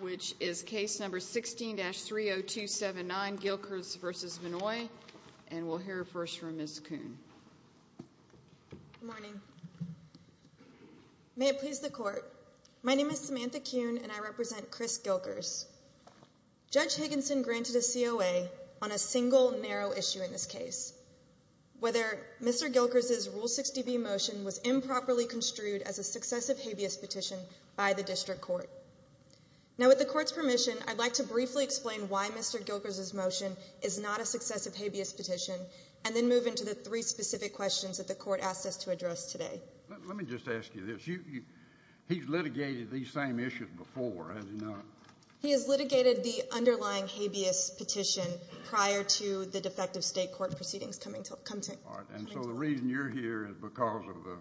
which is case number 16-30279 Gilkers v. Vannoy and we'll hear first from Ms. Kuhn. Good morning. May it please the court. My name is Samantha Kuhn and I represent Chris Gilkers. Judge Higginson granted a COA on a single narrow issue in this case. Whether Mr. Gilkers's rule 60b motion was improperly construed as a successive habeas petition by the district court. Now with the court's permission I'd like to briefly explain why Mr. Gilkers's motion is not a successive habeas petition and then move into the three specific questions that the court asked us to address today. Let me just ask you this. He's litigated these same issues before has he not? He has litigated the underlying habeas petition prior to the defective state court proceedings coming to come to. All right and so the reason you're here is because of the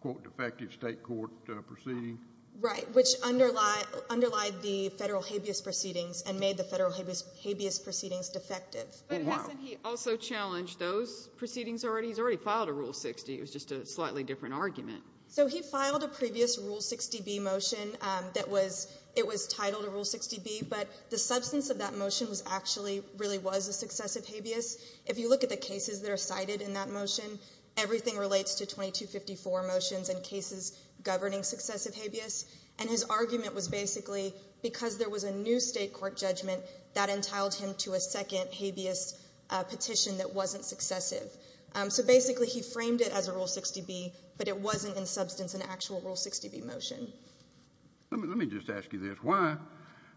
quote defective state court proceeding. Right which underlie underlied the federal habeas proceedings and made the federal habeas proceedings defective. But hasn't he also challenged those proceedings already? He's already filed a rule 60. It was just a slightly different argument. So he filed a previous rule 60b motion that was it was titled a rule 60b but the substance of that motion was actually really was a successive habeas. If you everything relates to 2254 motions and cases governing successive habeas and his argument was basically because there was a new state court judgment that entailed him to a second habeas petition that wasn't successive. So basically he framed it as a rule 60b but it wasn't in substance an actual rule 60b motion. Let me just ask you this. Why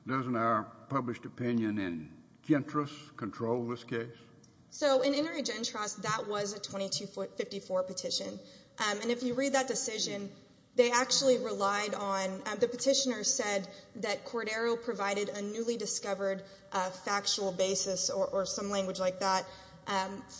doesn't our published opinion in so in interagen trust that was a 2254 petition and if you read that decision they actually relied on the petitioner said that Cordero provided a newly discovered factual basis or some language like that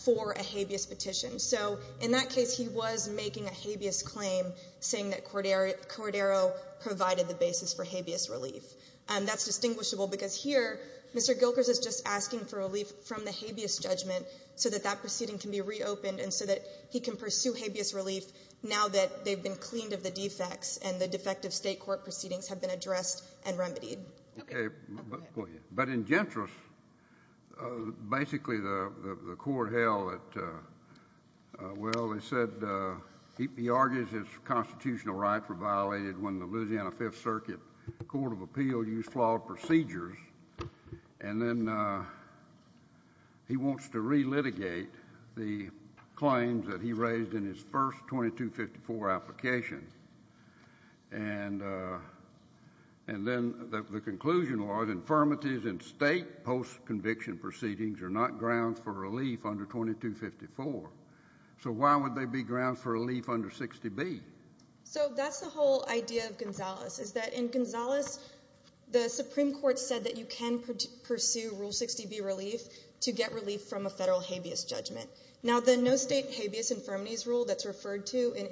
for a habeas petition. So in that case he was making a habeas claim saying that Cordero provided the basis for habeas relief and that's distinguishable because here Mr. Gilkers is just asking for relief from the habeas judgment so that that proceeding can be reopened and so that he can pursue habeas relief now that they've been cleaned of the defects and the defective state court proceedings have been addressed and remedied. But in gentris basically the court held that well they said he argues his constitutional rights were violated when the Louisiana Fifth Circuit Court of Appeal used flawed procedures and then he wants to re-litigate the claims that he raised in his first 2254 application and then the conclusion was infirmities in state post-conviction proceedings are not grounds for under 60b. So that's the whole idea of Gonzales is that in Gonzales the Supreme Court said that you can pursue rule 60b relief to get relief from a federal habeas judgment. Now the no state habeas infirmities rule that's referred to in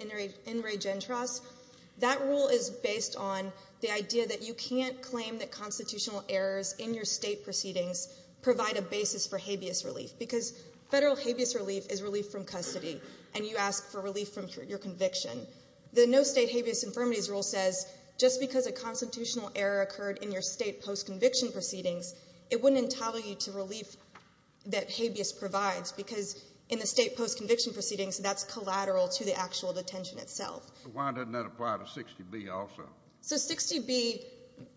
interagen trust that rule is based on the idea that you can't claim that constitutional errors in your state proceedings provide a basis for habeas relief is relief from custody and you ask for relief from your conviction. The no state habeas infirmities rule says just because a constitutional error occurred in your state post-conviction proceedings it wouldn't entitle you to relief that habeas provides because in the state post-conviction proceedings that's collateral to the actual detention itself. Why doesn't that apply to 60b also? So 60b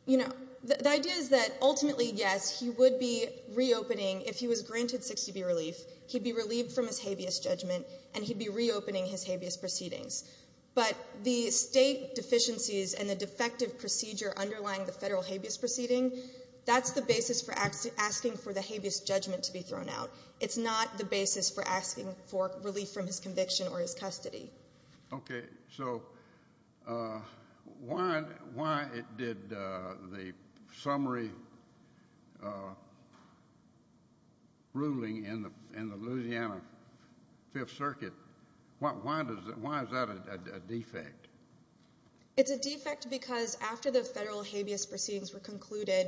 you know the idea is that ultimately yes he would be reopening if he was granted 60b relief he'd be relieved from his habeas judgment and he'd be reopening his habeas proceedings. But the state deficiencies and the defective procedure underlying the federal habeas proceeding that's the basis for asking for the habeas judgment to be thrown out. It's not the basis for asking for relief from his conviction or his custody. Okay so why did the summary uh ruling in the in the Louisiana fifth circuit what why does it why is that a defect? It's a defect because after the federal habeas proceedings were concluded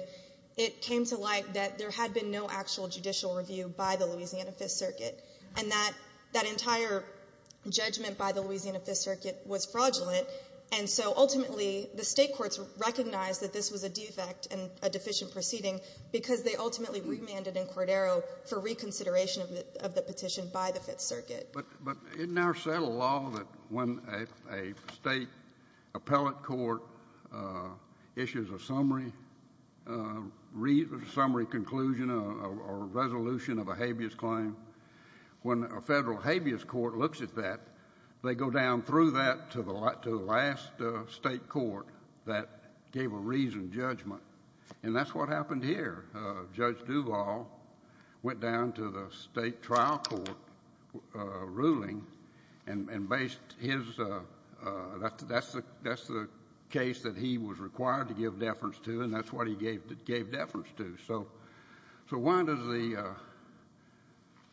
it came to light that there had been no actual judicial review by the Louisiana fifth circuit and that that entire judgment by the Louisiana fifth circuit was fraudulent and so ultimately the state courts recognized that this was a defect and a deficient proceeding because they ultimately remanded in Cordero for reconsideration of the of the petition by the fifth circuit. But but in our settled law that when a State appellate court issues a summary uh summary conclusion or resolution of a habeas claim when a Federal habeas court looks at that they go down through that to the last to the last uh state court that gave a reasoned judgment and that's what happened here uh Judge Duvall went down to the state trial court uh ruling and and based his uh uh that's that's the that's the case that he was required to give deference to and that's what he gave that gave deference to so so why does the uh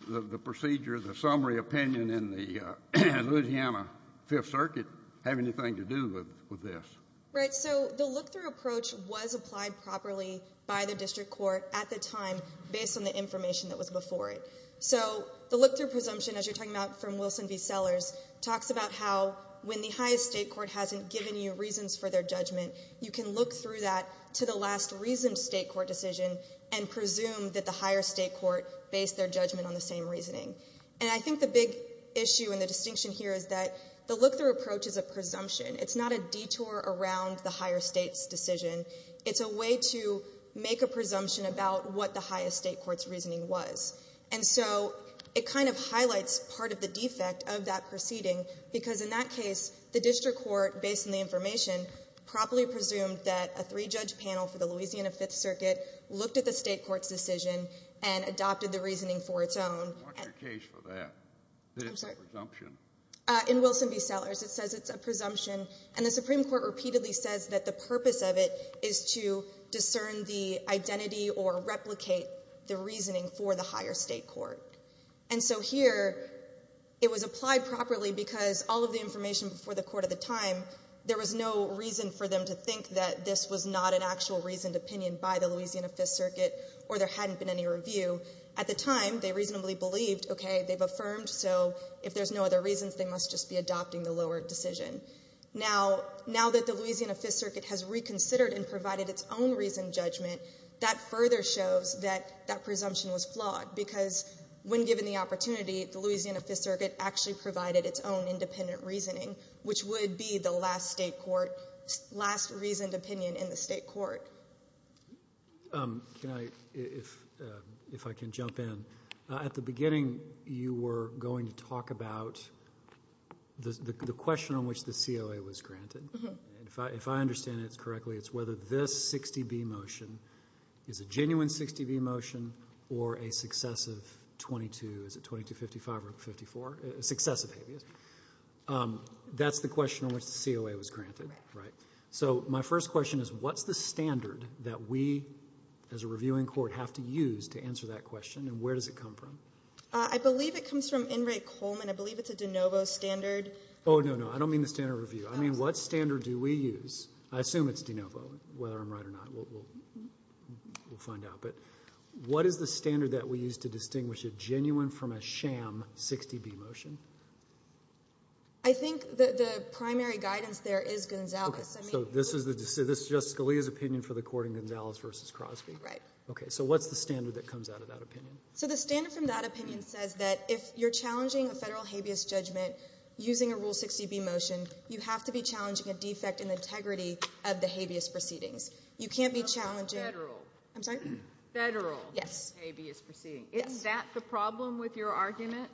the procedure the summary opinion in the uh Louisiana fifth circuit have anything to do with with this? Right so the look-through approach was applied properly by the district court at the time based on the information that was before it. So the look-through presumption as you're talking about from Wilson v Sellers talks about how when the highest state court hasn't given you reasons for their judgment you can look through that to the last reasoned state court decision and presume that the higher state court based their judgment on the same reasoning and I think the big issue and the distinction here is that the look-through approach is a presumption it's not a detour around the higher state's decision it's a way to make a presumption about what the highest state court's reasoning was and so it kind of highlights part of the defect of that proceeding because in that case the district court based on the information properly presumed that a three-judge panel for the Louisiana fifth circuit looked at the state court's decision and adopted the reasoning for its own. What's your case for that presumption? In Wilson v Sellers it says it's a presumption and the supreme court repeatedly says that the purpose of it is to discern the identity or replicate the reasoning for the higher state court and so here it was applied properly because all of the information before the court at the time there was no reason for them to think that this was not an actual reasoned opinion by the Louisiana fifth circuit or there hadn't been any review at the time they reasonably believed okay they've affirmed so if there's no other reasons they must just be adopting the lower decision. Now that the Louisiana fifth circuit has reconsidered and provided its own reasoned judgment that further shows that that presumption was flawed because when given the opportunity the Louisiana fifth which would be the last state court last reasoned opinion in the state court. Can I if if I can jump in at the beginning you were going to talk about the the question on which the COA was granted and if I if I understand it correctly it's whether this 60B motion is a genuine 60B motion or a successive 22 is it 2255 or 54 a successive habeas that's the question on which the COA was granted right so my first question is what's the standard that we as a reviewing court have to use to answer that question and where does it come from? I believe it comes from N. Ray Coleman I believe it's a de novo standard. Oh no no I don't mean the standard review I mean what standard do we use I assume it's de novo whether I'm right or not we'll we'll find out but what is the standard that we use to distinguish a I think the the primary guidance there is Gonzalez. So this is the this is Justice Scalia's opinion for the court in Gonzalez versus Crosby. Right. Okay so what's the standard that comes out of that opinion? So the standard from that opinion says that if you're challenging a federal habeas judgment using a rule 60B motion you have to be challenging a defect in the integrity of the habeas proceedings you can't be challenging federal I'm sorry federal yes habeas proceeding is that the problem with your argument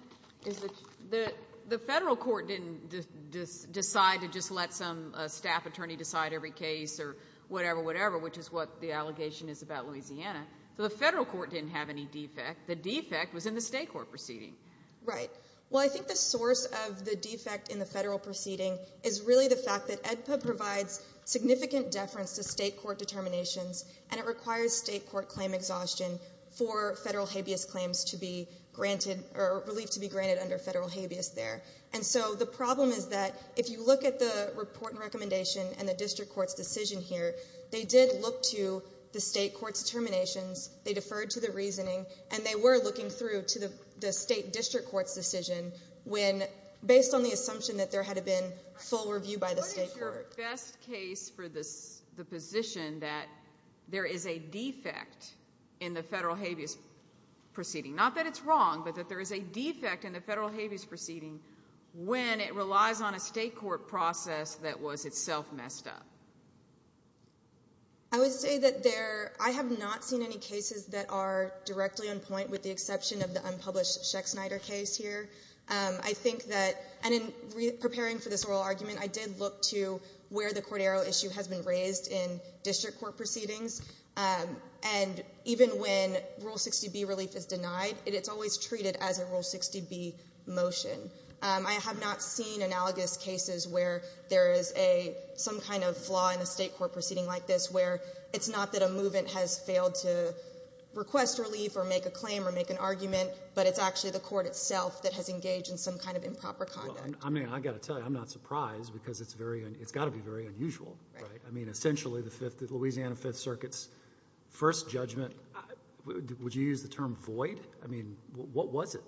is that the the federal court didn't just decide to just let some staff attorney decide every case or whatever whatever which is what the allegation is about Louisiana so the federal court didn't have any defect the defect was in the state court proceeding. Right well I think the source of the defect in the federal proceeding is really the fact that AEDPA provides significant deference to state court determinations and it requires state court claim exhaustion for federal habeas claims to be granted or relief to be granted under federal habeas there and so the problem is that if you look at the report and recommendation and the district court's decision here they did look to the state court's determinations they deferred to the reasoning and they were looking through to the the state district court's decision when based on the assumption that there had been full review by the state best case for this the position that there is a defect in the federal habeas proceeding not that it's wrong but that there is a defect in the federal habeas proceeding when it relies on a state court process that was itself messed up. I would say that there I have not seen any cases that are directly on point with the exception of the unpublished Sheck Snyder case here I think that and in preparing for this oral argument I did look to where the Cordero issue has been raised in district court proceedings and even when rule 60b relief is denied it's always treated as a rule 60b motion. I have not seen analogous cases where there is a some kind of flaw in the state court proceeding like this where it's not that a movement has failed to request relief or make a claim or make an argument but it's actually the court itself that has engaged in some kind of improper conduct. I mean I got to tell you I'm not surprised because it's very it's got to be very unusual right I mean essentially the Louisiana fifth circuit's first judgment would you use the term void I mean what was it?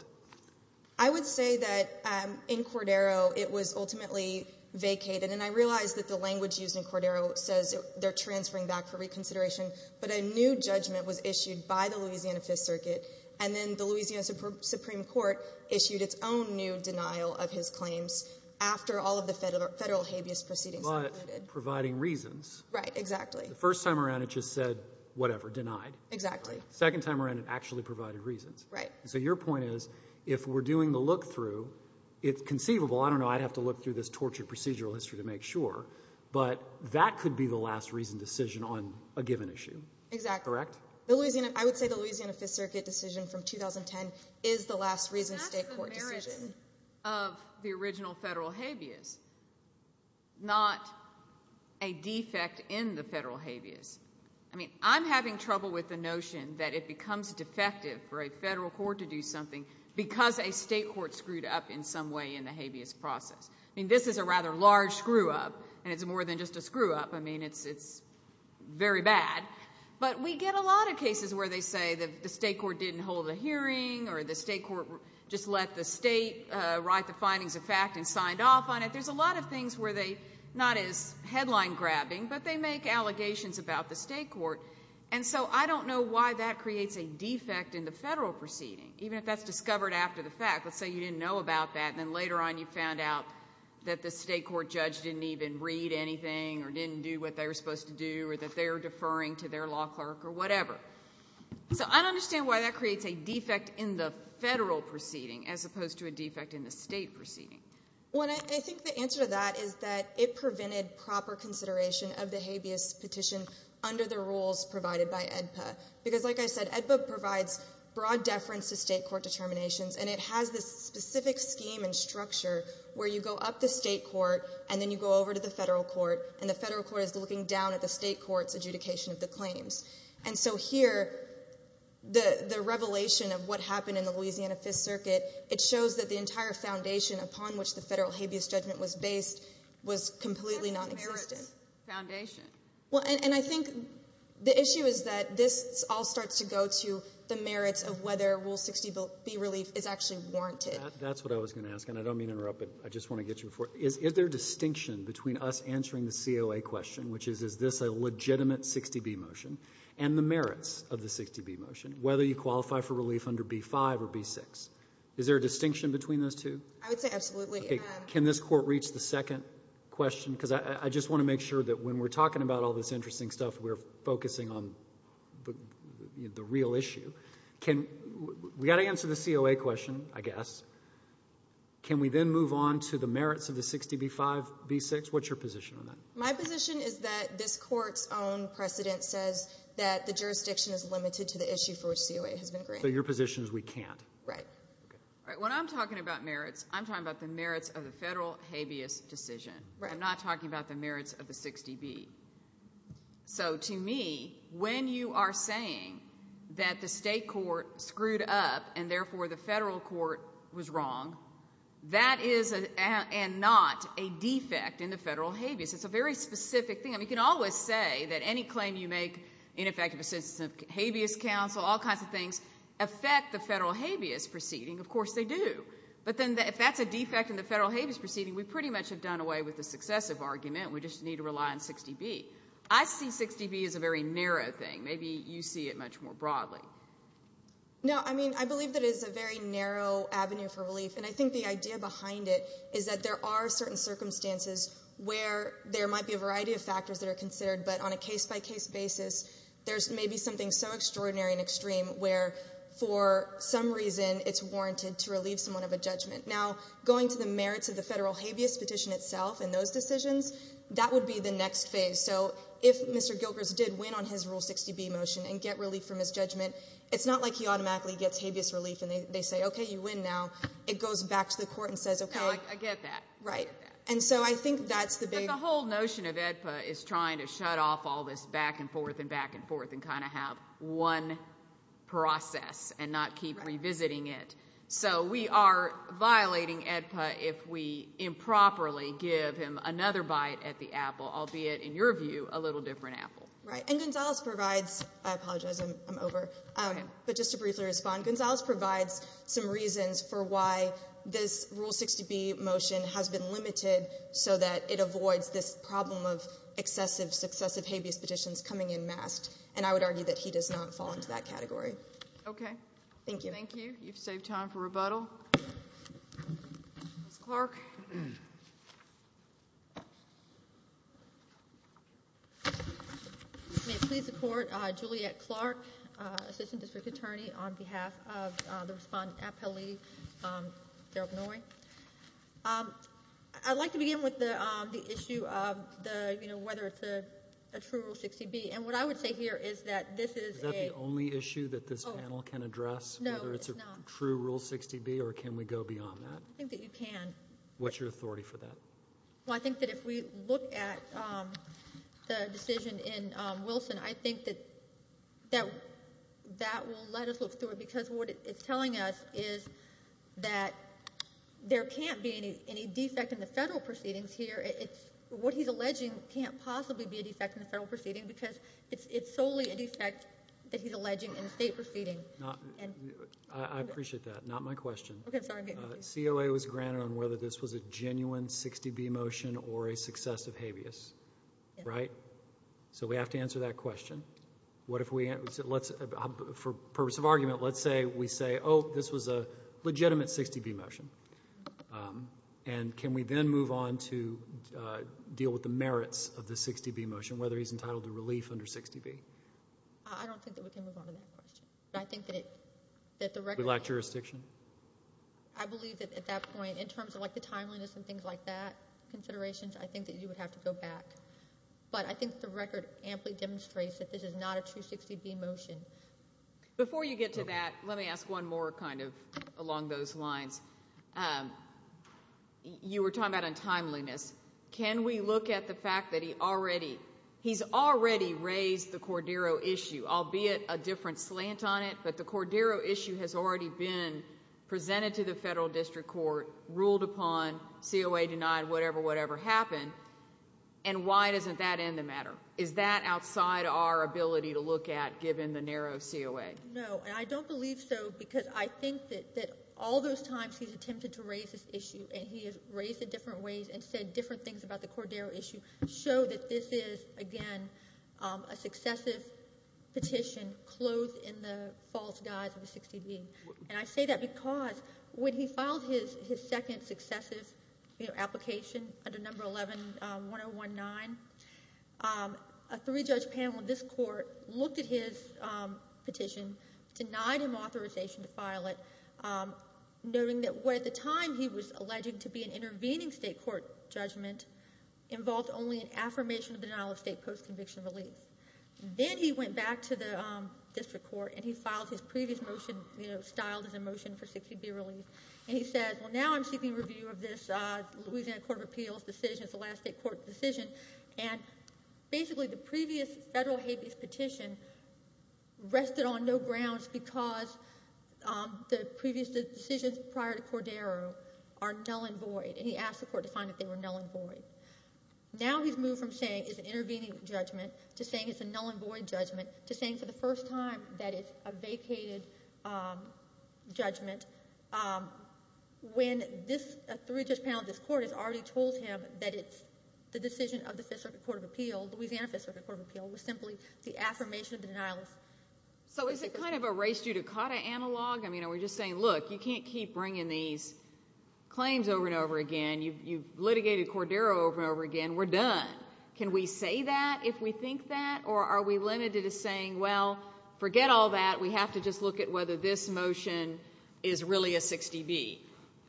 I would say that in Cordero it was ultimately vacated and I realized that the language used in Cordero says they're transferring back for reconsideration but a new judgment was issued by the Louisiana Fifth Circuit and then the Louisiana Supreme Court issued its own new denial of his claims after all of the federal habeas proceedings. Providing reasons right exactly the first time around it just said whatever denied exactly second time around it actually provided reasons right so your point is if we're doing the look through it's conceivable I don't know I'd have to look through this tortured procedural history to make sure but that could be the last reason on a given issue exactly correct the Louisiana I would say the Louisiana Fifth Circuit decision from 2010 is the last reason state court decision of the original federal habeas not a defect in the federal habeas I mean I'm having trouble with the notion that it becomes defective for a federal court to do something because a state court screwed up in some way in the habeas process I mean this is a rather large screw-up and it's more than just a screw-up I mean it's it's very bad but we get a lot of cases where they say that the state court didn't hold a hearing or the state court just let the state uh write the findings of fact and signed off on it there's a lot of things where they not as headline grabbing but they make allegations about the state court and so I don't know why that creates a defect in the federal proceeding even if that's discovered after the fact let's say you didn't know about that and then later on you didn't even read anything or didn't do what they were supposed to do or that they're deferring to their law clerk or whatever so I don't understand why that creates a defect in the federal proceeding as opposed to a defect in the state proceeding when I think the answer to that is that it prevented proper consideration of the habeas petition under the rules provided by EDPA because like I said EDPA provides broad deference to state court determinations and it has this federal court and the federal court is looking down at the state court's adjudication of the claims and so here the the revelation of what happened in the Louisiana fifth circuit it shows that the entire foundation upon which the federal habeas judgment was based was completely non-existent foundation well and I think the issue is that this all starts to go to the merits of whether rule 60 be relief is actually warranted that's what I was going to ask and I don't mean to interrupt but I have a distinction between us answering the COA question which is is this a legitimate 60b motion and the merits of the 60b motion whether you qualify for relief under b5 or b6 is there a distinction between those two I would say absolutely okay can this court reach the second question because I just want to make sure that when we're talking about all this interesting stuff we're focusing on the real issue can we got to answer the COA question I guess can we then move on to merits of the 60b 5 b6 what's your position on that my position is that this court's own precedent says that the jurisdiction is limited to the issue for COA has been granted your position is we can't right all right when I'm talking about merits I'm talking about the merits of the federal habeas decision I'm not talking about the merits of the 60b so to me when you are saying that the state court screwed up and therefore the federal court was wrong that is a and not a defect in the federal habeas it's a very specific thing I mean you can always say that any claim you make ineffective assistance of habeas counsel all kinds of things affect the federal habeas proceeding of course they do but then if that's a defect in the federal habeas proceeding we pretty much have done away with the successive argument we just need to rely on 60b I see 60b is a very narrow thing maybe you see it much more broadly no I mean I believe that is a very narrow avenue for relief and I think the idea behind it is that there are certain circumstances where there might be a variety of factors that are considered but on a case-by-case basis there's maybe something so extraordinary and extreme where for some reason it's warranted to relieve someone of a judgment now going to the merits of federal habeas petition itself and those decisions that would be the next phase so if Mr. Gilkers did win on his rule 60b motion and get relief from his judgment it's not like he automatically gets habeas relief and they say okay you win now it goes back to the court and says okay I get that right and so I think that's the big whole notion of EDPA is trying to shut off all this back and forth and back and forth and kind of have one process and not keep revisiting it so we are violating EDPA if we improperly give him another bite at the apple albeit in your view a little different apple right and Gonzales provides I apologize I'm over um but just to briefly respond Gonzales provides some reasons for why this rule 60b motion has been limited so that it avoids this problem of excessive successive habeas petitions coming in masked and I would argue that he does not fall into that category okay thank you thank you you've saved time for rebuttal. Ms. Clark. May it please the court uh Juliet Clark uh assistant district attorney on behalf of the respondent appellee um I'd like to begin with the um the issue of the you know whether it's a true rule 60b and what I would say here is that this is the only issue that this panel can address whether it's a true rule 60b or can we go beyond that I think that you can what's your authority for that well I think that if we look at um the decision in um Wilson I think that that that will let us look through it because what it's telling us is that there can't be any any defect in the federal proceedings here it's what he's alleging can't possibly be a defect in the federal proceeding because it's it's solely a defect that he's alleging in a state proceeding not and I appreciate that not my question okay COA was granted on whether this was a genuine 60b motion or a successive habeas right so we have to answer that question what if we let's for purpose of argument let's say we say oh this was a um and can we then move on to uh deal with the merits of the 60b motion whether he's entitled to relief under 60b I don't think that we can move on to that question but I think that it that the record lack jurisdiction I believe that at that point in terms of like the timeliness and things like that considerations I think that you would have to go back but I think the record amply demonstrates that this is not a true 60b motion before you get to that let me ask one more kind of along those lines um you were talking about untimeliness can we look at the fact that he already he's already raised the Cordero issue albeit a different slant on it but the Cordero issue has already been presented to the federal district court ruled upon COA denied whatever whatever happened and why doesn't that end the matter is that outside our ability to look at the narrow COA no and I don't believe so because I think that that all those times he's attempted to raise this issue and he has raised it different ways and said different things about the Cordero issue show that this is again a successive petition clothed in the false guise of a 60b and I say that because when he filed his his second successive you know application under number 111019 a three-judge panel in this court looked at his petition denied him authorization to file it noting that what at the time he was alleging to be an intervening state court judgment involved only an affirmation of denial of state post-conviction relief then he went back to the district court and he filed his previous motion you know styled as a motion for 60b release and he says well now I'm seeking review of this uh Louisiana court of the last state court decision and basically the previous federal habeas petition rested on no grounds because um the previous decisions prior to Cordero are null and void and he asked the court to find that they were null and void now he's moved from saying it's an intervening judgment to saying it's a null and void judgment to saying for the first time that it's a vacated um judgment um when this three-judge panel of this court has already told him that it's the decision of the fifth circuit court of appeal Louisiana fifth circuit court of appeal was simply the affirmation of the denialist so is it kind of a race judicata analog I mean we're just saying look you can't keep bringing these claims over and over again you've you've litigated Cordero over and over again we're done can we say that if we think that or are we limited to saying well forget all that we have to just look at whether this motion is really a 60b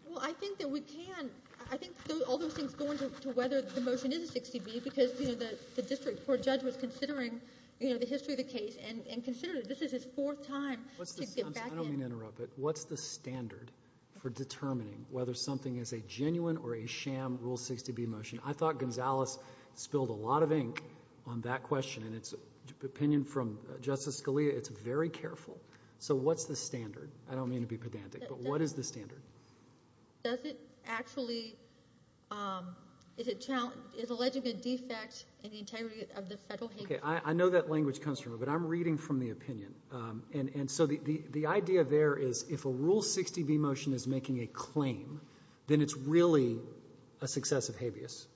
well I think that we can I think all those things go into whether the motion is a 60b because you know the district court judge was considering you know the history of the case and and consider this is his fourth time I don't mean to interrupt but what's the standard for determining whether something is a genuine or a sham rule 60b motion I thought Gonzalez spilled a lot of ink on that question and it's opinion from Justice Scalia it's very careful so what's the standard I don't mean to be pedantic but what is the standard does it actually um is it challenging is alleging a defect in the integrity of the federal okay I know that language comes from but I'm reading from the opinion um and and so the the idea there is if a rule 60b motion is making a claim then it's really a successive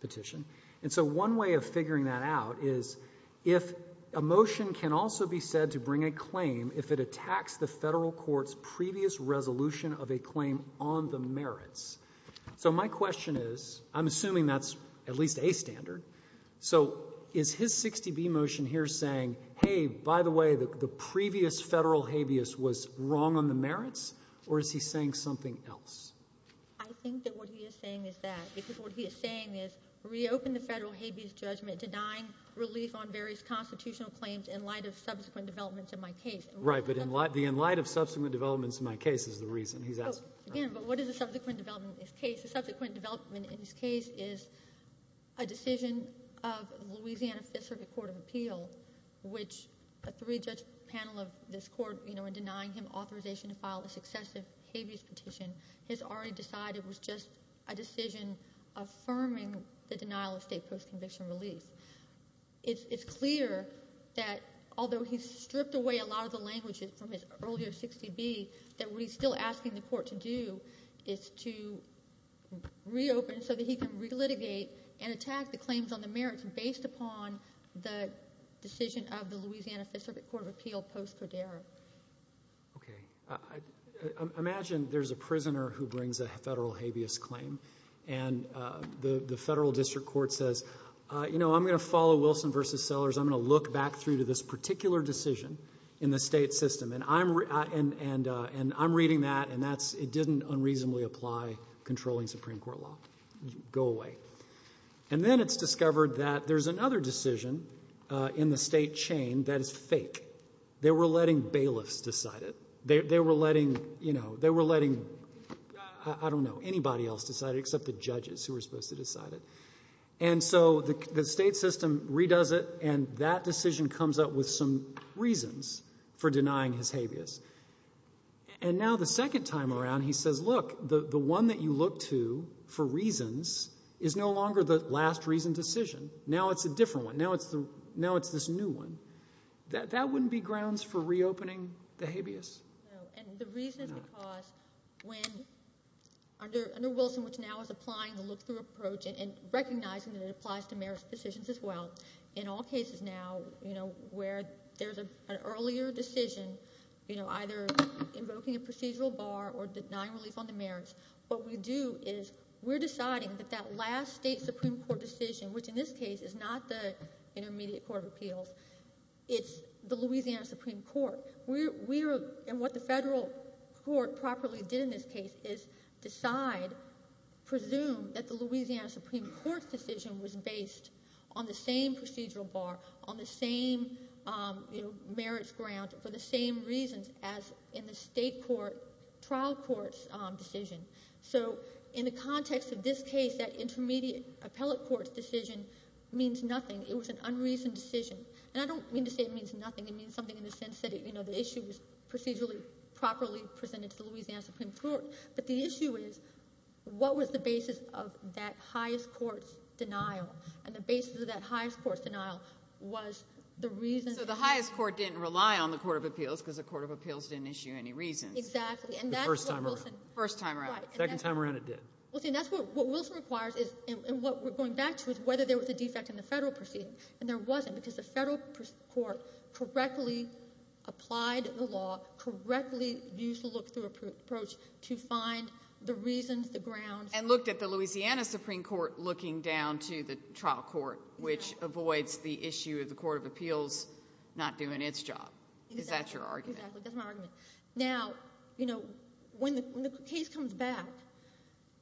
petition and so one way of figuring that out is if a motion can also be said to bring a claim if it attacks the federal court's previous resolution of a claim on the merits so my question is I'm assuming that's at least a standard so is his 60b motion here saying hey by the way the previous federal habeas was wrong on the merits or is he saying something else I think that what he is saying is that because what he is saying is reopen the federal habeas judgment denying relief on various constitutional claims in light of subsequent developments in my case right but in light the in light of subsequent developments in my case is the reason he's asking again but what is the subsequent development in this case the subsequent development in this case is a decision of Louisiana Fifth Circuit Court of Appeal which a three-judge panel of this court you know in denying him authorization to file a successive habeas petition has already decided was just a decision affirming the denial of state post-conviction relief it's it's clear that although he's stripped away a lot of the languages from his earlier 60b that what he's still asking the court to do is to reopen so that he can re-litigate and attack the claims on the merits based upon the decision of the Louisiana Fifth Circuit Court of Appeal post-cordero okay imagine there's a prisoner who brings a federal habeas claim and the the federal district court says you know I'm going to follow Wilson versus Sellers I'm going to look back through to this particular decision in the state system and I'm and and I'm reading that and that's it didn't unreasonably apply controlling Supreme Court law go away and then it's discovered that there's another decision uh in the state chain that is fake they were letting bailiffs decide it they were letting you know they were letting I don't know anybody else decided except the judges who were supposed to decide it and so the state system redoes it and that decision comes up with some and now the second time around he says look the the one that you look to for reasons is no longer the last reason decision now it's a different one now it's the now it's this new one that that wouldn't be grounds for reopening the habeas no and the reason is because when under under Wilson which now is applying the look-through approach and recognizing that it applies to marriage decisions as well in all cases now you know where there's a an earlier decision you know either invoking a procedural bar or denying relief on the marriage what we do is we're deciding that that last state Supreme Court decision which in this case is not the Intermediate Court of Appeals it's the Louisiana Supreme Court we're we're and what the federal court properly did in this case is decide presume that the Louisiana Supreme Court's decision was based on the same procedural bar on the same you know marriage ground for the same reasons as in the state court trial courts decision so in the context of this case that intermediate appellate court's decision means nothing it was an unreasoned decision and I don't mean to say it means nothing it means something in the sense that it you know the issue was procedurally properly presented to the Louisiana Supreme Court the issue is what was the basis of that highest court's denial and the basis of that highest court's denial was the reason so the highest court didn't rely on the court of appeals because the court of appeals didn't issue any reasons exactly and that first time first time right second time around it did well see that's what what Wilson requires is and what we're going back to is whether there was a defect in the federal proceeding and there wasn't because the federal court correctly applied the law correctly used to look through approach to find the reasons the ground and looked at the Louisiana Supreme Court looking down to the trial court which avoids the issue of the court of appeals not doing its job is that your argument that's my argument now you know when the case comes back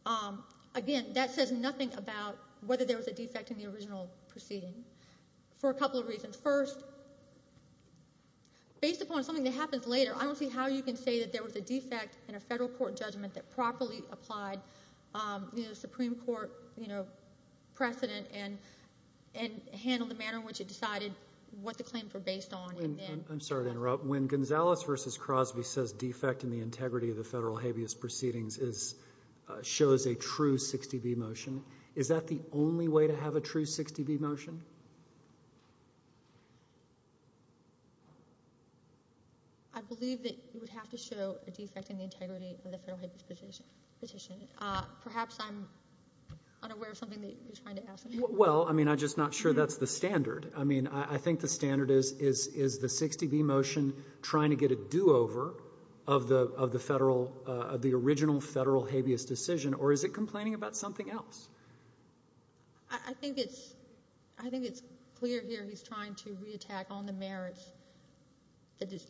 um again that says nothing about whether there was a defect in original proceeding for a couple of reasons first based upon something that happens later I don't see how you can say that there was a defect in a federal court judgment that properly applied um the supreme court you know precedent and and handled the manner in which it decided what the claims were based on and then I'm sorry to interrupt when Gonzalez versus Crosby says defect in the integrity of the federal habeas proceedings is shows a true 60b motion is that the only way to have a true 60b motion I believe that you would have to show a defect in the integrity of the federal habeas petition petition uh perhaps I'm unaware of something that you're trying to ask well I mean I'm just not sure that's the standard I mean I think the standard is is is the 60b motion trying to get a do-over of the of the federal uh of the original federal habeas decision or is it complaining about something else I think it's I think it's clear here he's trying to re-attack on the merits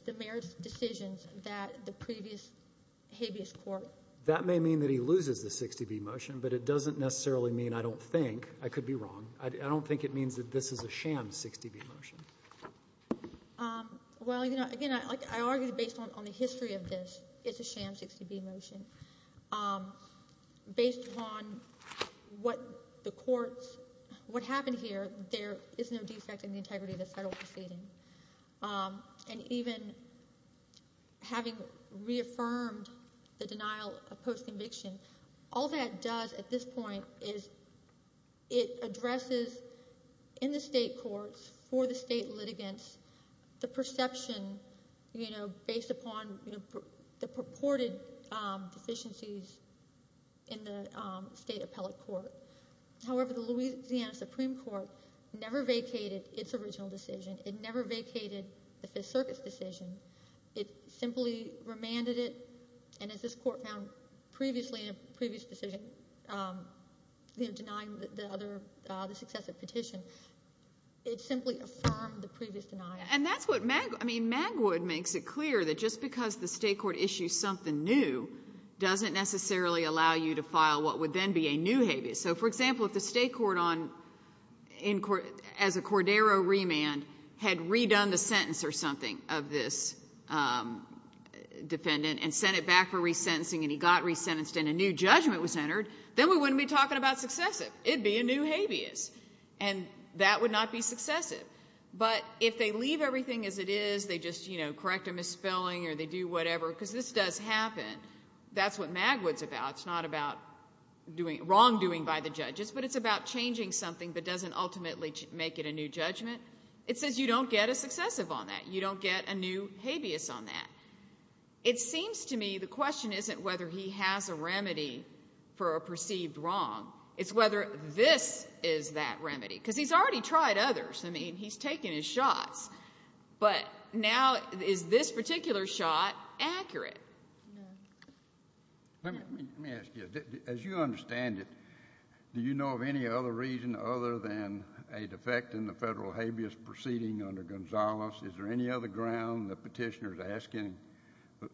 the merits decisions that the previous habeas court that may mean that he loses the 60b motion but it doesn't necessarily mean I don't think I could be wrong I don't think it means that this is a sham 60b motion um well you know again I argued based on the history of this it's a sham 60b motion um based on what the courts what happened here there is no defect in the integrity of the federal proceeding and even having reaffirmed the denial of post-conviction all that does at this point is it addresses in the state courts for the state litigants the perception you know based upon the purported deficiencies in the state appellate court however the Louisiana Supreme Court never vacated its original decision it never vacated the fifth circuit's decision it simply remanded it and as this court found previously in a previous decision um you know denying the other uh the successive petition it simply affirmed the previous denial and that's what mag I mean magwood makes it clear that just because the state court issues something new doesn't necessarily allow you to file what would then be a new habeas so for example if the state court on in court as a cordero remand had redone the sentence or something of this um defendant and sent it back for resentencing and he got resentenced and a new judgment was entered then we wouldn't be talking about successive it'd be a new habeas and that would not be successive but if they leave everything as it is they just you know correct a misspelling or they do whatever because this does happen that's what magwood's about it's not about doing wrongdoing by the something but doesn't ultimately make it a new judgment it says you don't get a successive on that you don't get a new habeas on that it seems to me the question isn't whether he has a remedy for a perceived wrong it's whether this is that remedy because he's already tried others I mean he's taken his shots but now is this particular shot accurate let me let me ask you as you understand it do you know of any other reason other than a defect in the federal habeas proceeding under gonzalez is there any other ground the petitioner is asking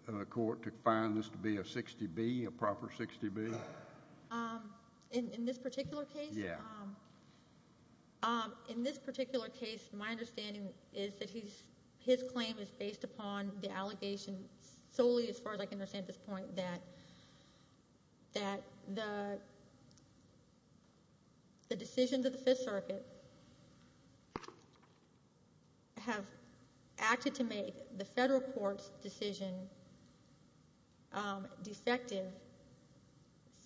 the court to find this to be a 60b a proper 60b um in in this particular case yeah um um in this particular case my understanding is that he's his claim is based upon the allegation solely as far as I can understand this point that that the the decisions of the fifth circuit have acted to make the federal court's decision um defective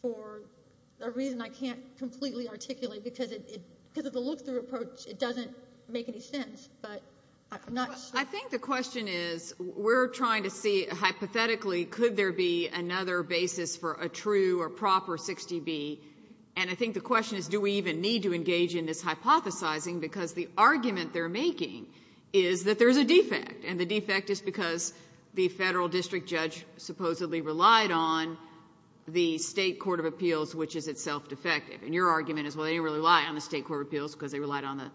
for a reason I can't completely articulate because it because of the look-through approach it doesn't make any sense but I'm not we're trying to see hypothetically could there be another basis for a true or proper 60b and I think the question is do we even need to engage in this hypothesizing because the argument they're making is that there's a defect and the defect is because the federal district judge supposedly relied on the state court of appeals which is itself defective and your argument is well they didn't really rely on the state court of appeals because they relied on the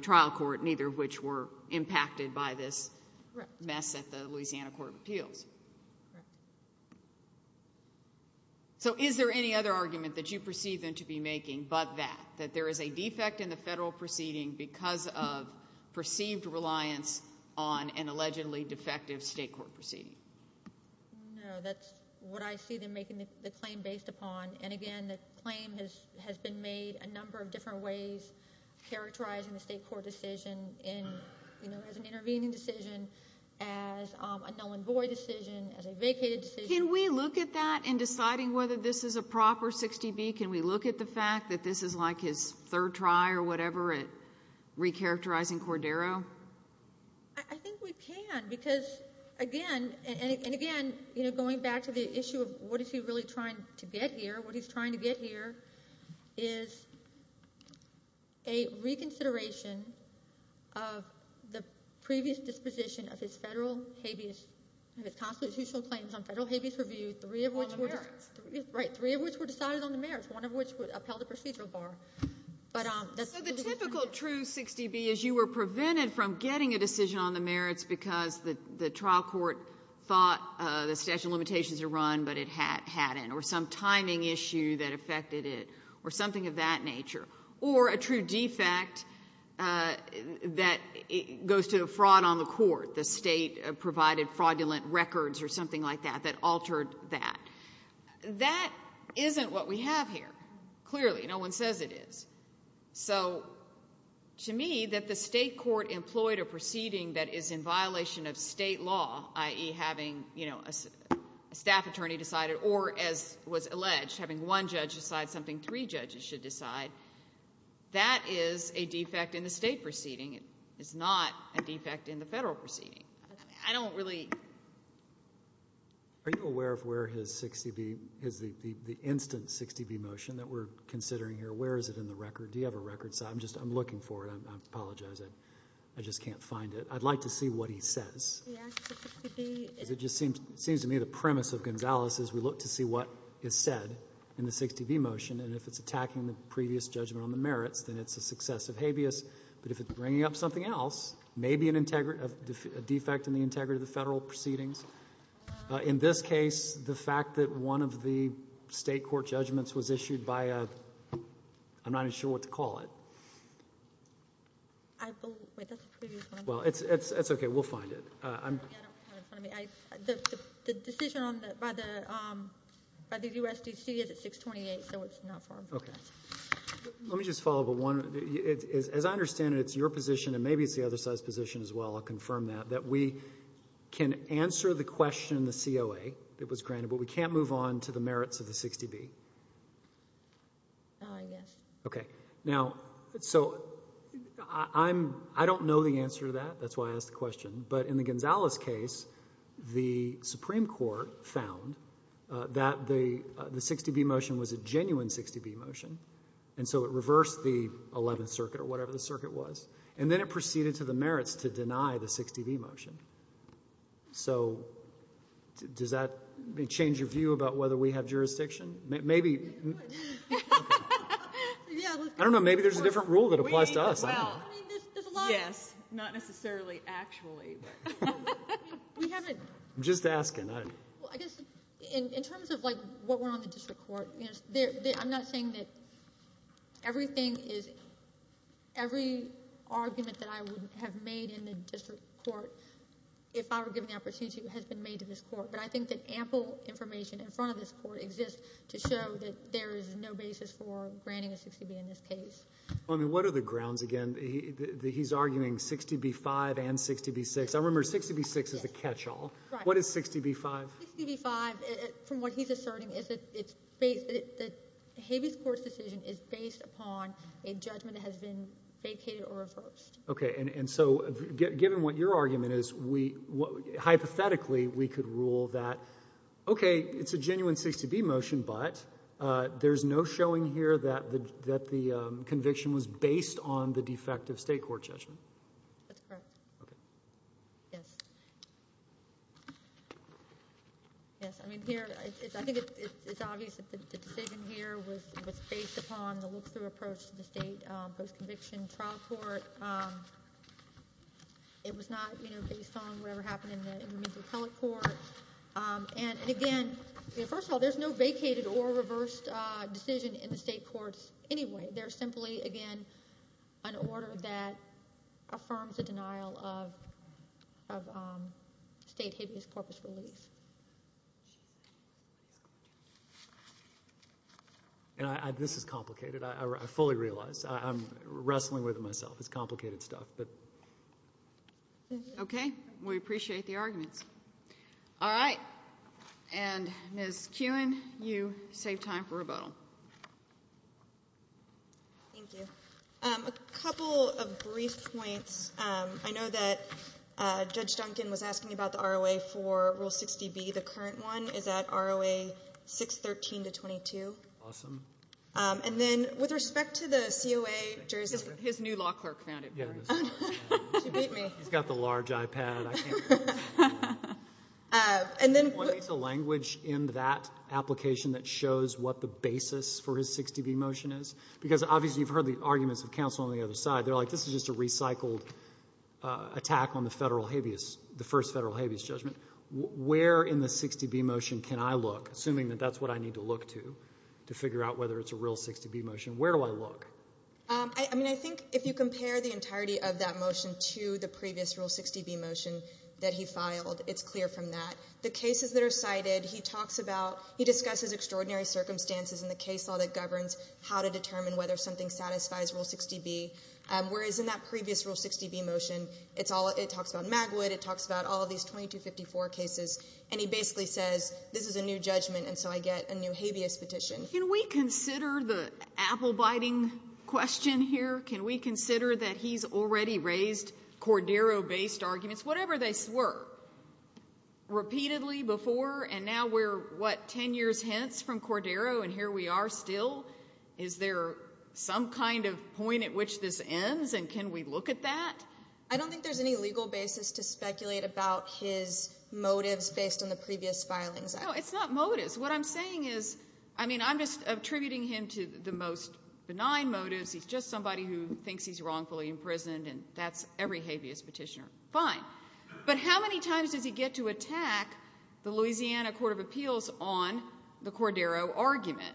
trial court neither of which were impacted by this mess at the Louisiana court of appeals so is there any other argument that you perceive them to be making but that that there is a defect in the federal proceeding because of perceived reliance on an allegedly defective state court proceeding no that's what I see them making the claim based upon and again the claim has been made a number of different ways characterizing the state court decision in you know as an intervening decision as a null and void decision as a vacated can we look at that and deciding whether this is a proper 60b can we look at the fact that this is like his third try or whatever it recharacterizing Cordero I think we can because again and again you know going back to the issue of what is he really trying to get here what he's trying to get here is a reconsideration of the previous disposition of his federal habeas and his constitutional claims on federal habeas review three of which were right three of which were decided on the merits one of which would upheld the procedural bar but um that's the typical true 60b is you were prevented from getting a decision on the merits because the the trial court thought uh the statute of but it had had in or some timing issue that affected it or something of that nature or a true defect uh that it goes to the fraud on the court the state provided fraudulent records or something like that that altered that that isn't what we have here clearly no one says it is so to me that the state court employed a proceeding that is in violation of state law i.e. having you know a staff attorney decided or as was alleged having one judge decide something three judges should decide that is a defect in the state proceeding it is not a defect in the federal proceeding i don't really are you aware of where his 60b is the the instant 60b motion that we're considering here where is it in the record do you have a record so i'm just i'm looking for it i apologize i just can't find it i'd like to see what he says it just seems it seems to me the premise of gonzalez is we look to see what is said in the 60b motion and if it's attacking the previous judgment on the merits then it's a successive habeas but if it's bringing up something else maybe an integrity of a defect in the integrity of the federal proceedings in this case the fact that one of the state court judgments was issued by a i'm not sure what to call it i believe that's the previous one well it's it's it's okay we'll find it uh i'm the decision on that by the um by the usdc is at 628 so it's not far okay let me just follow but one it is as i understand it it's your position and maybe it's the other side's position as well i'll confirm that that we can answer the question the coa that was granted but we can't on to the merits of the 60b oh i guess okay now so i'm i don't know the answer to that that's why i asked the question but in the gonzalez case the supreme court found uh that the the 60b motion was a genuine 60b motion and so it reversed the 11th circuit or whatever the circuit was and then it merits to deny the 60b motion so does that change your view about whether we have jurisdiction maybe i don't know maybe there's a different rule that applies to us yes not necessarily actually but we haven't i'm just asking i well i guess in in terms of like what went on the district court yes there i'm not saying that everything is every argument that i would have made in the district court if i were given the opportunity has been made to this court but i think that ample information in front of this court exists to show that there is no basis for granting a 60b in this case i mean what are the grounds again he he's arguing 60b5 and 60b6 i remember 60b6 is the catch-all what is 60b5 65 from what he's asserting is that it's based that has been vacated or reversed okay and and so given what your argument is we what hypothetically we could rule that okay it's a genuine 60b motion but uh there's no showing here that the that the conviction was based on the defective state court judgment that's correct okay yes yes i mean here i think it's obvious that the decision here was was based upon the look-through approach to the state post-conviction trial court um it was not you know based on whatever happened in the intermediate appellate court um and again first of all there's no vacated or reversed uh decision in the state courts anyway they're simply again an order that affirms the denial of of um state habeas corpus relief and i this is complicated i fully realize i'm wrestling with it myself it's complicated stuff but okay we appreciate the arguments all right and mrs kuhn you save time for rebuttal thank you um a couple of brief points um i know that uh judge duncan was asking about the roa for rule 60b the current one is at roa 613 to 22 awesome um and then with respect to the coa jurors his new law clerk found it yeah he's got the large ipad i can't uh and then it's a language in that application that shows what the basis for his 60b motion is because obviously you've heard the arguments of counsel on the other side they're like this is a recycled attack on the federal habeas the first federal habeas judgment where in the 60b motion can i look assuming that that's what i need to look to to figure out whether it's a real 60b motion where do i look um i mean i think if you compare the entirety of that motion to the previous rule 60b motion that he filed it's clear from that the cases that are cited he talks about he discusses extraordinary circumstances in the case law that governs how to determine whether something satisfies rule 60b whereas in that previous rule 60b motion it's all it talks about magwood it talks about all these 2254 cases and he basically says this is a new judgment and so i get a new habeas petition can we consider the apple biting question here can we consider that he's already raised cordero based arguments whatever they swore repeatedly before and now we're what 10 years from cordero and here we are still is there some kind of point at which this ends and can we look at that i don't think there's any legal basis to speculate about his motives based on the previous filings no it's not motives what i'm saying is i mean i'm just attributing him to the most benign motives he's just somebody who thinks he's wrongfully imprisoned and that's every habeas fine but how many times does he get to attack the louisiana court of appeals on the cordero argument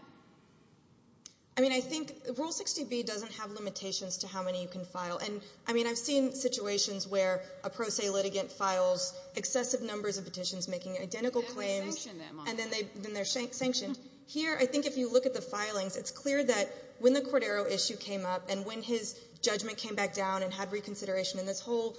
i mean i think rule 60b doesn't have limitations to how many you can file and i mean i've seen situations where a pro se litigant files excessive numbers of petitions making identical claims and then they then they're sanctioned here i think if you look at the filings it's clear that when the cordero issue came up and when his judgment came back down and reconsideration and this whole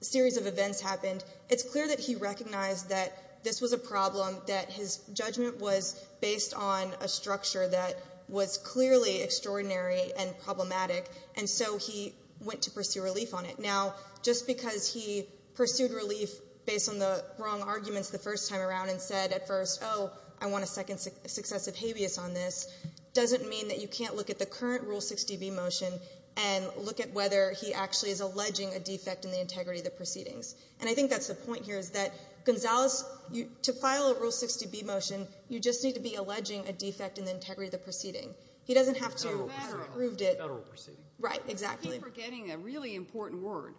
series of events happened it's clear that he recognized that this was a problem that his judgment was based on a structure that was clearly extraordinary and problematic and so he went to pursue relief on it now just because he pursued relief based on the wrong arguments the first time around and said at first oh i want a second successive habeas on this doesn't mean that you can't look at the current rule 60b motion and look at whether he actually is alleging a defect in the integrity of the proceedings and i think that's the point here is that gonzalez you to file a rule 60b motion you just need to be alleging a defect in the integrity of the proceeding he doesn't have to proved it federal proceeding right exactly forgetting a really important word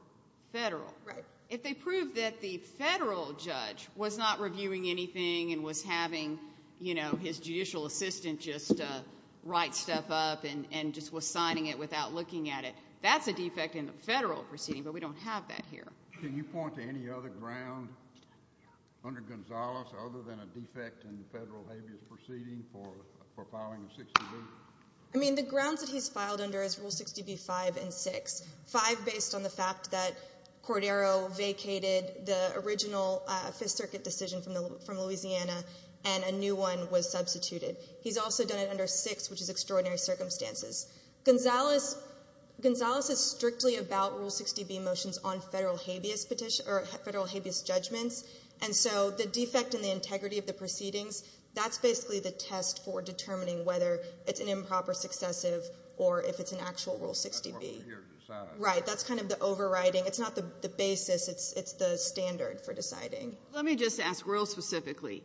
federal right if they prove that the federal judge was not reviewing anything and was having you know his judicial assistant just uh write stuff up and and just was signing it without looking at it that's a defect in the federal proceeding but we don't have that here can you point to any other ground under gonzalez other than a defect in the federal habeas proceeding for for filing 60b i mean the grounds that he's filed under is rule 60b 5 and 6 5 based on the and a new one was substituted he's also done it under six which is extraordinary circumstances gonzalez gonzalez is strictly about rule 60b motions on federal habeas petition or federal habeas judgments and so the defect in the integrity of the proceedings that's basically the test for determining whether it's an improper successive or if it's an actual rule 60b right that's kind of the overriding it's not the the basis it's it's the standard for deciding let me just ask real specifically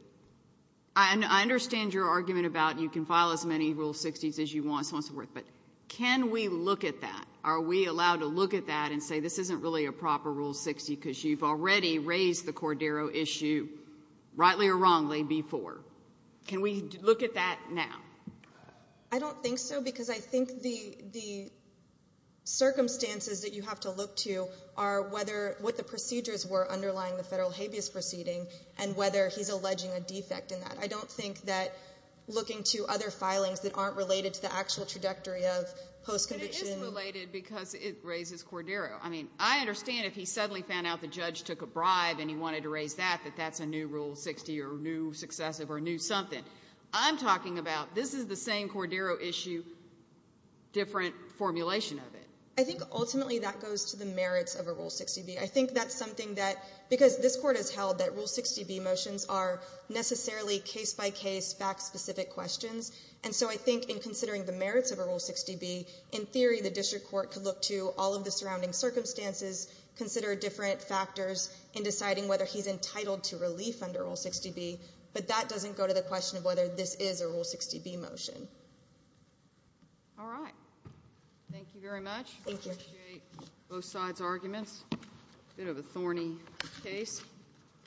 i understand your argument about you can file as many rule 60s as you want so and so forth but can we look at that are we allowed to look at that and say this isn't really a proper rule 60 because you've already raised the cordero issue rightly or wrongly before can we look at that now i don't think so because i think the the circumstances that you have to are whether what the procedures were underlying the federal habeas proceeding and whether he's alleging a defect in that i don't think that looking to other filings that aren't related to the actual trajectory of post-conviction related because it raises cordero i mean i understand if he suddenly found out the judge took a bribe and he wanted to raise that that that's a new rule 60 or new successive or new something i'm talking about this is the same issue different formulation of it i think ultimately that goes to the merits of a rule 60b i think that's something that because this court has held that rule 60b motions are necessarily case-by-case fact-specific questions and so i think in considering the merits of a rule 60b in theory the district court could look to all of the surrounding circumstances consider different factors in deciding whether he's entitled to relief under rule 60b but that doesn't go to the question of whether this is a rule 60b motion all right thank you very much thank you both sides arguments a bit of a thorny case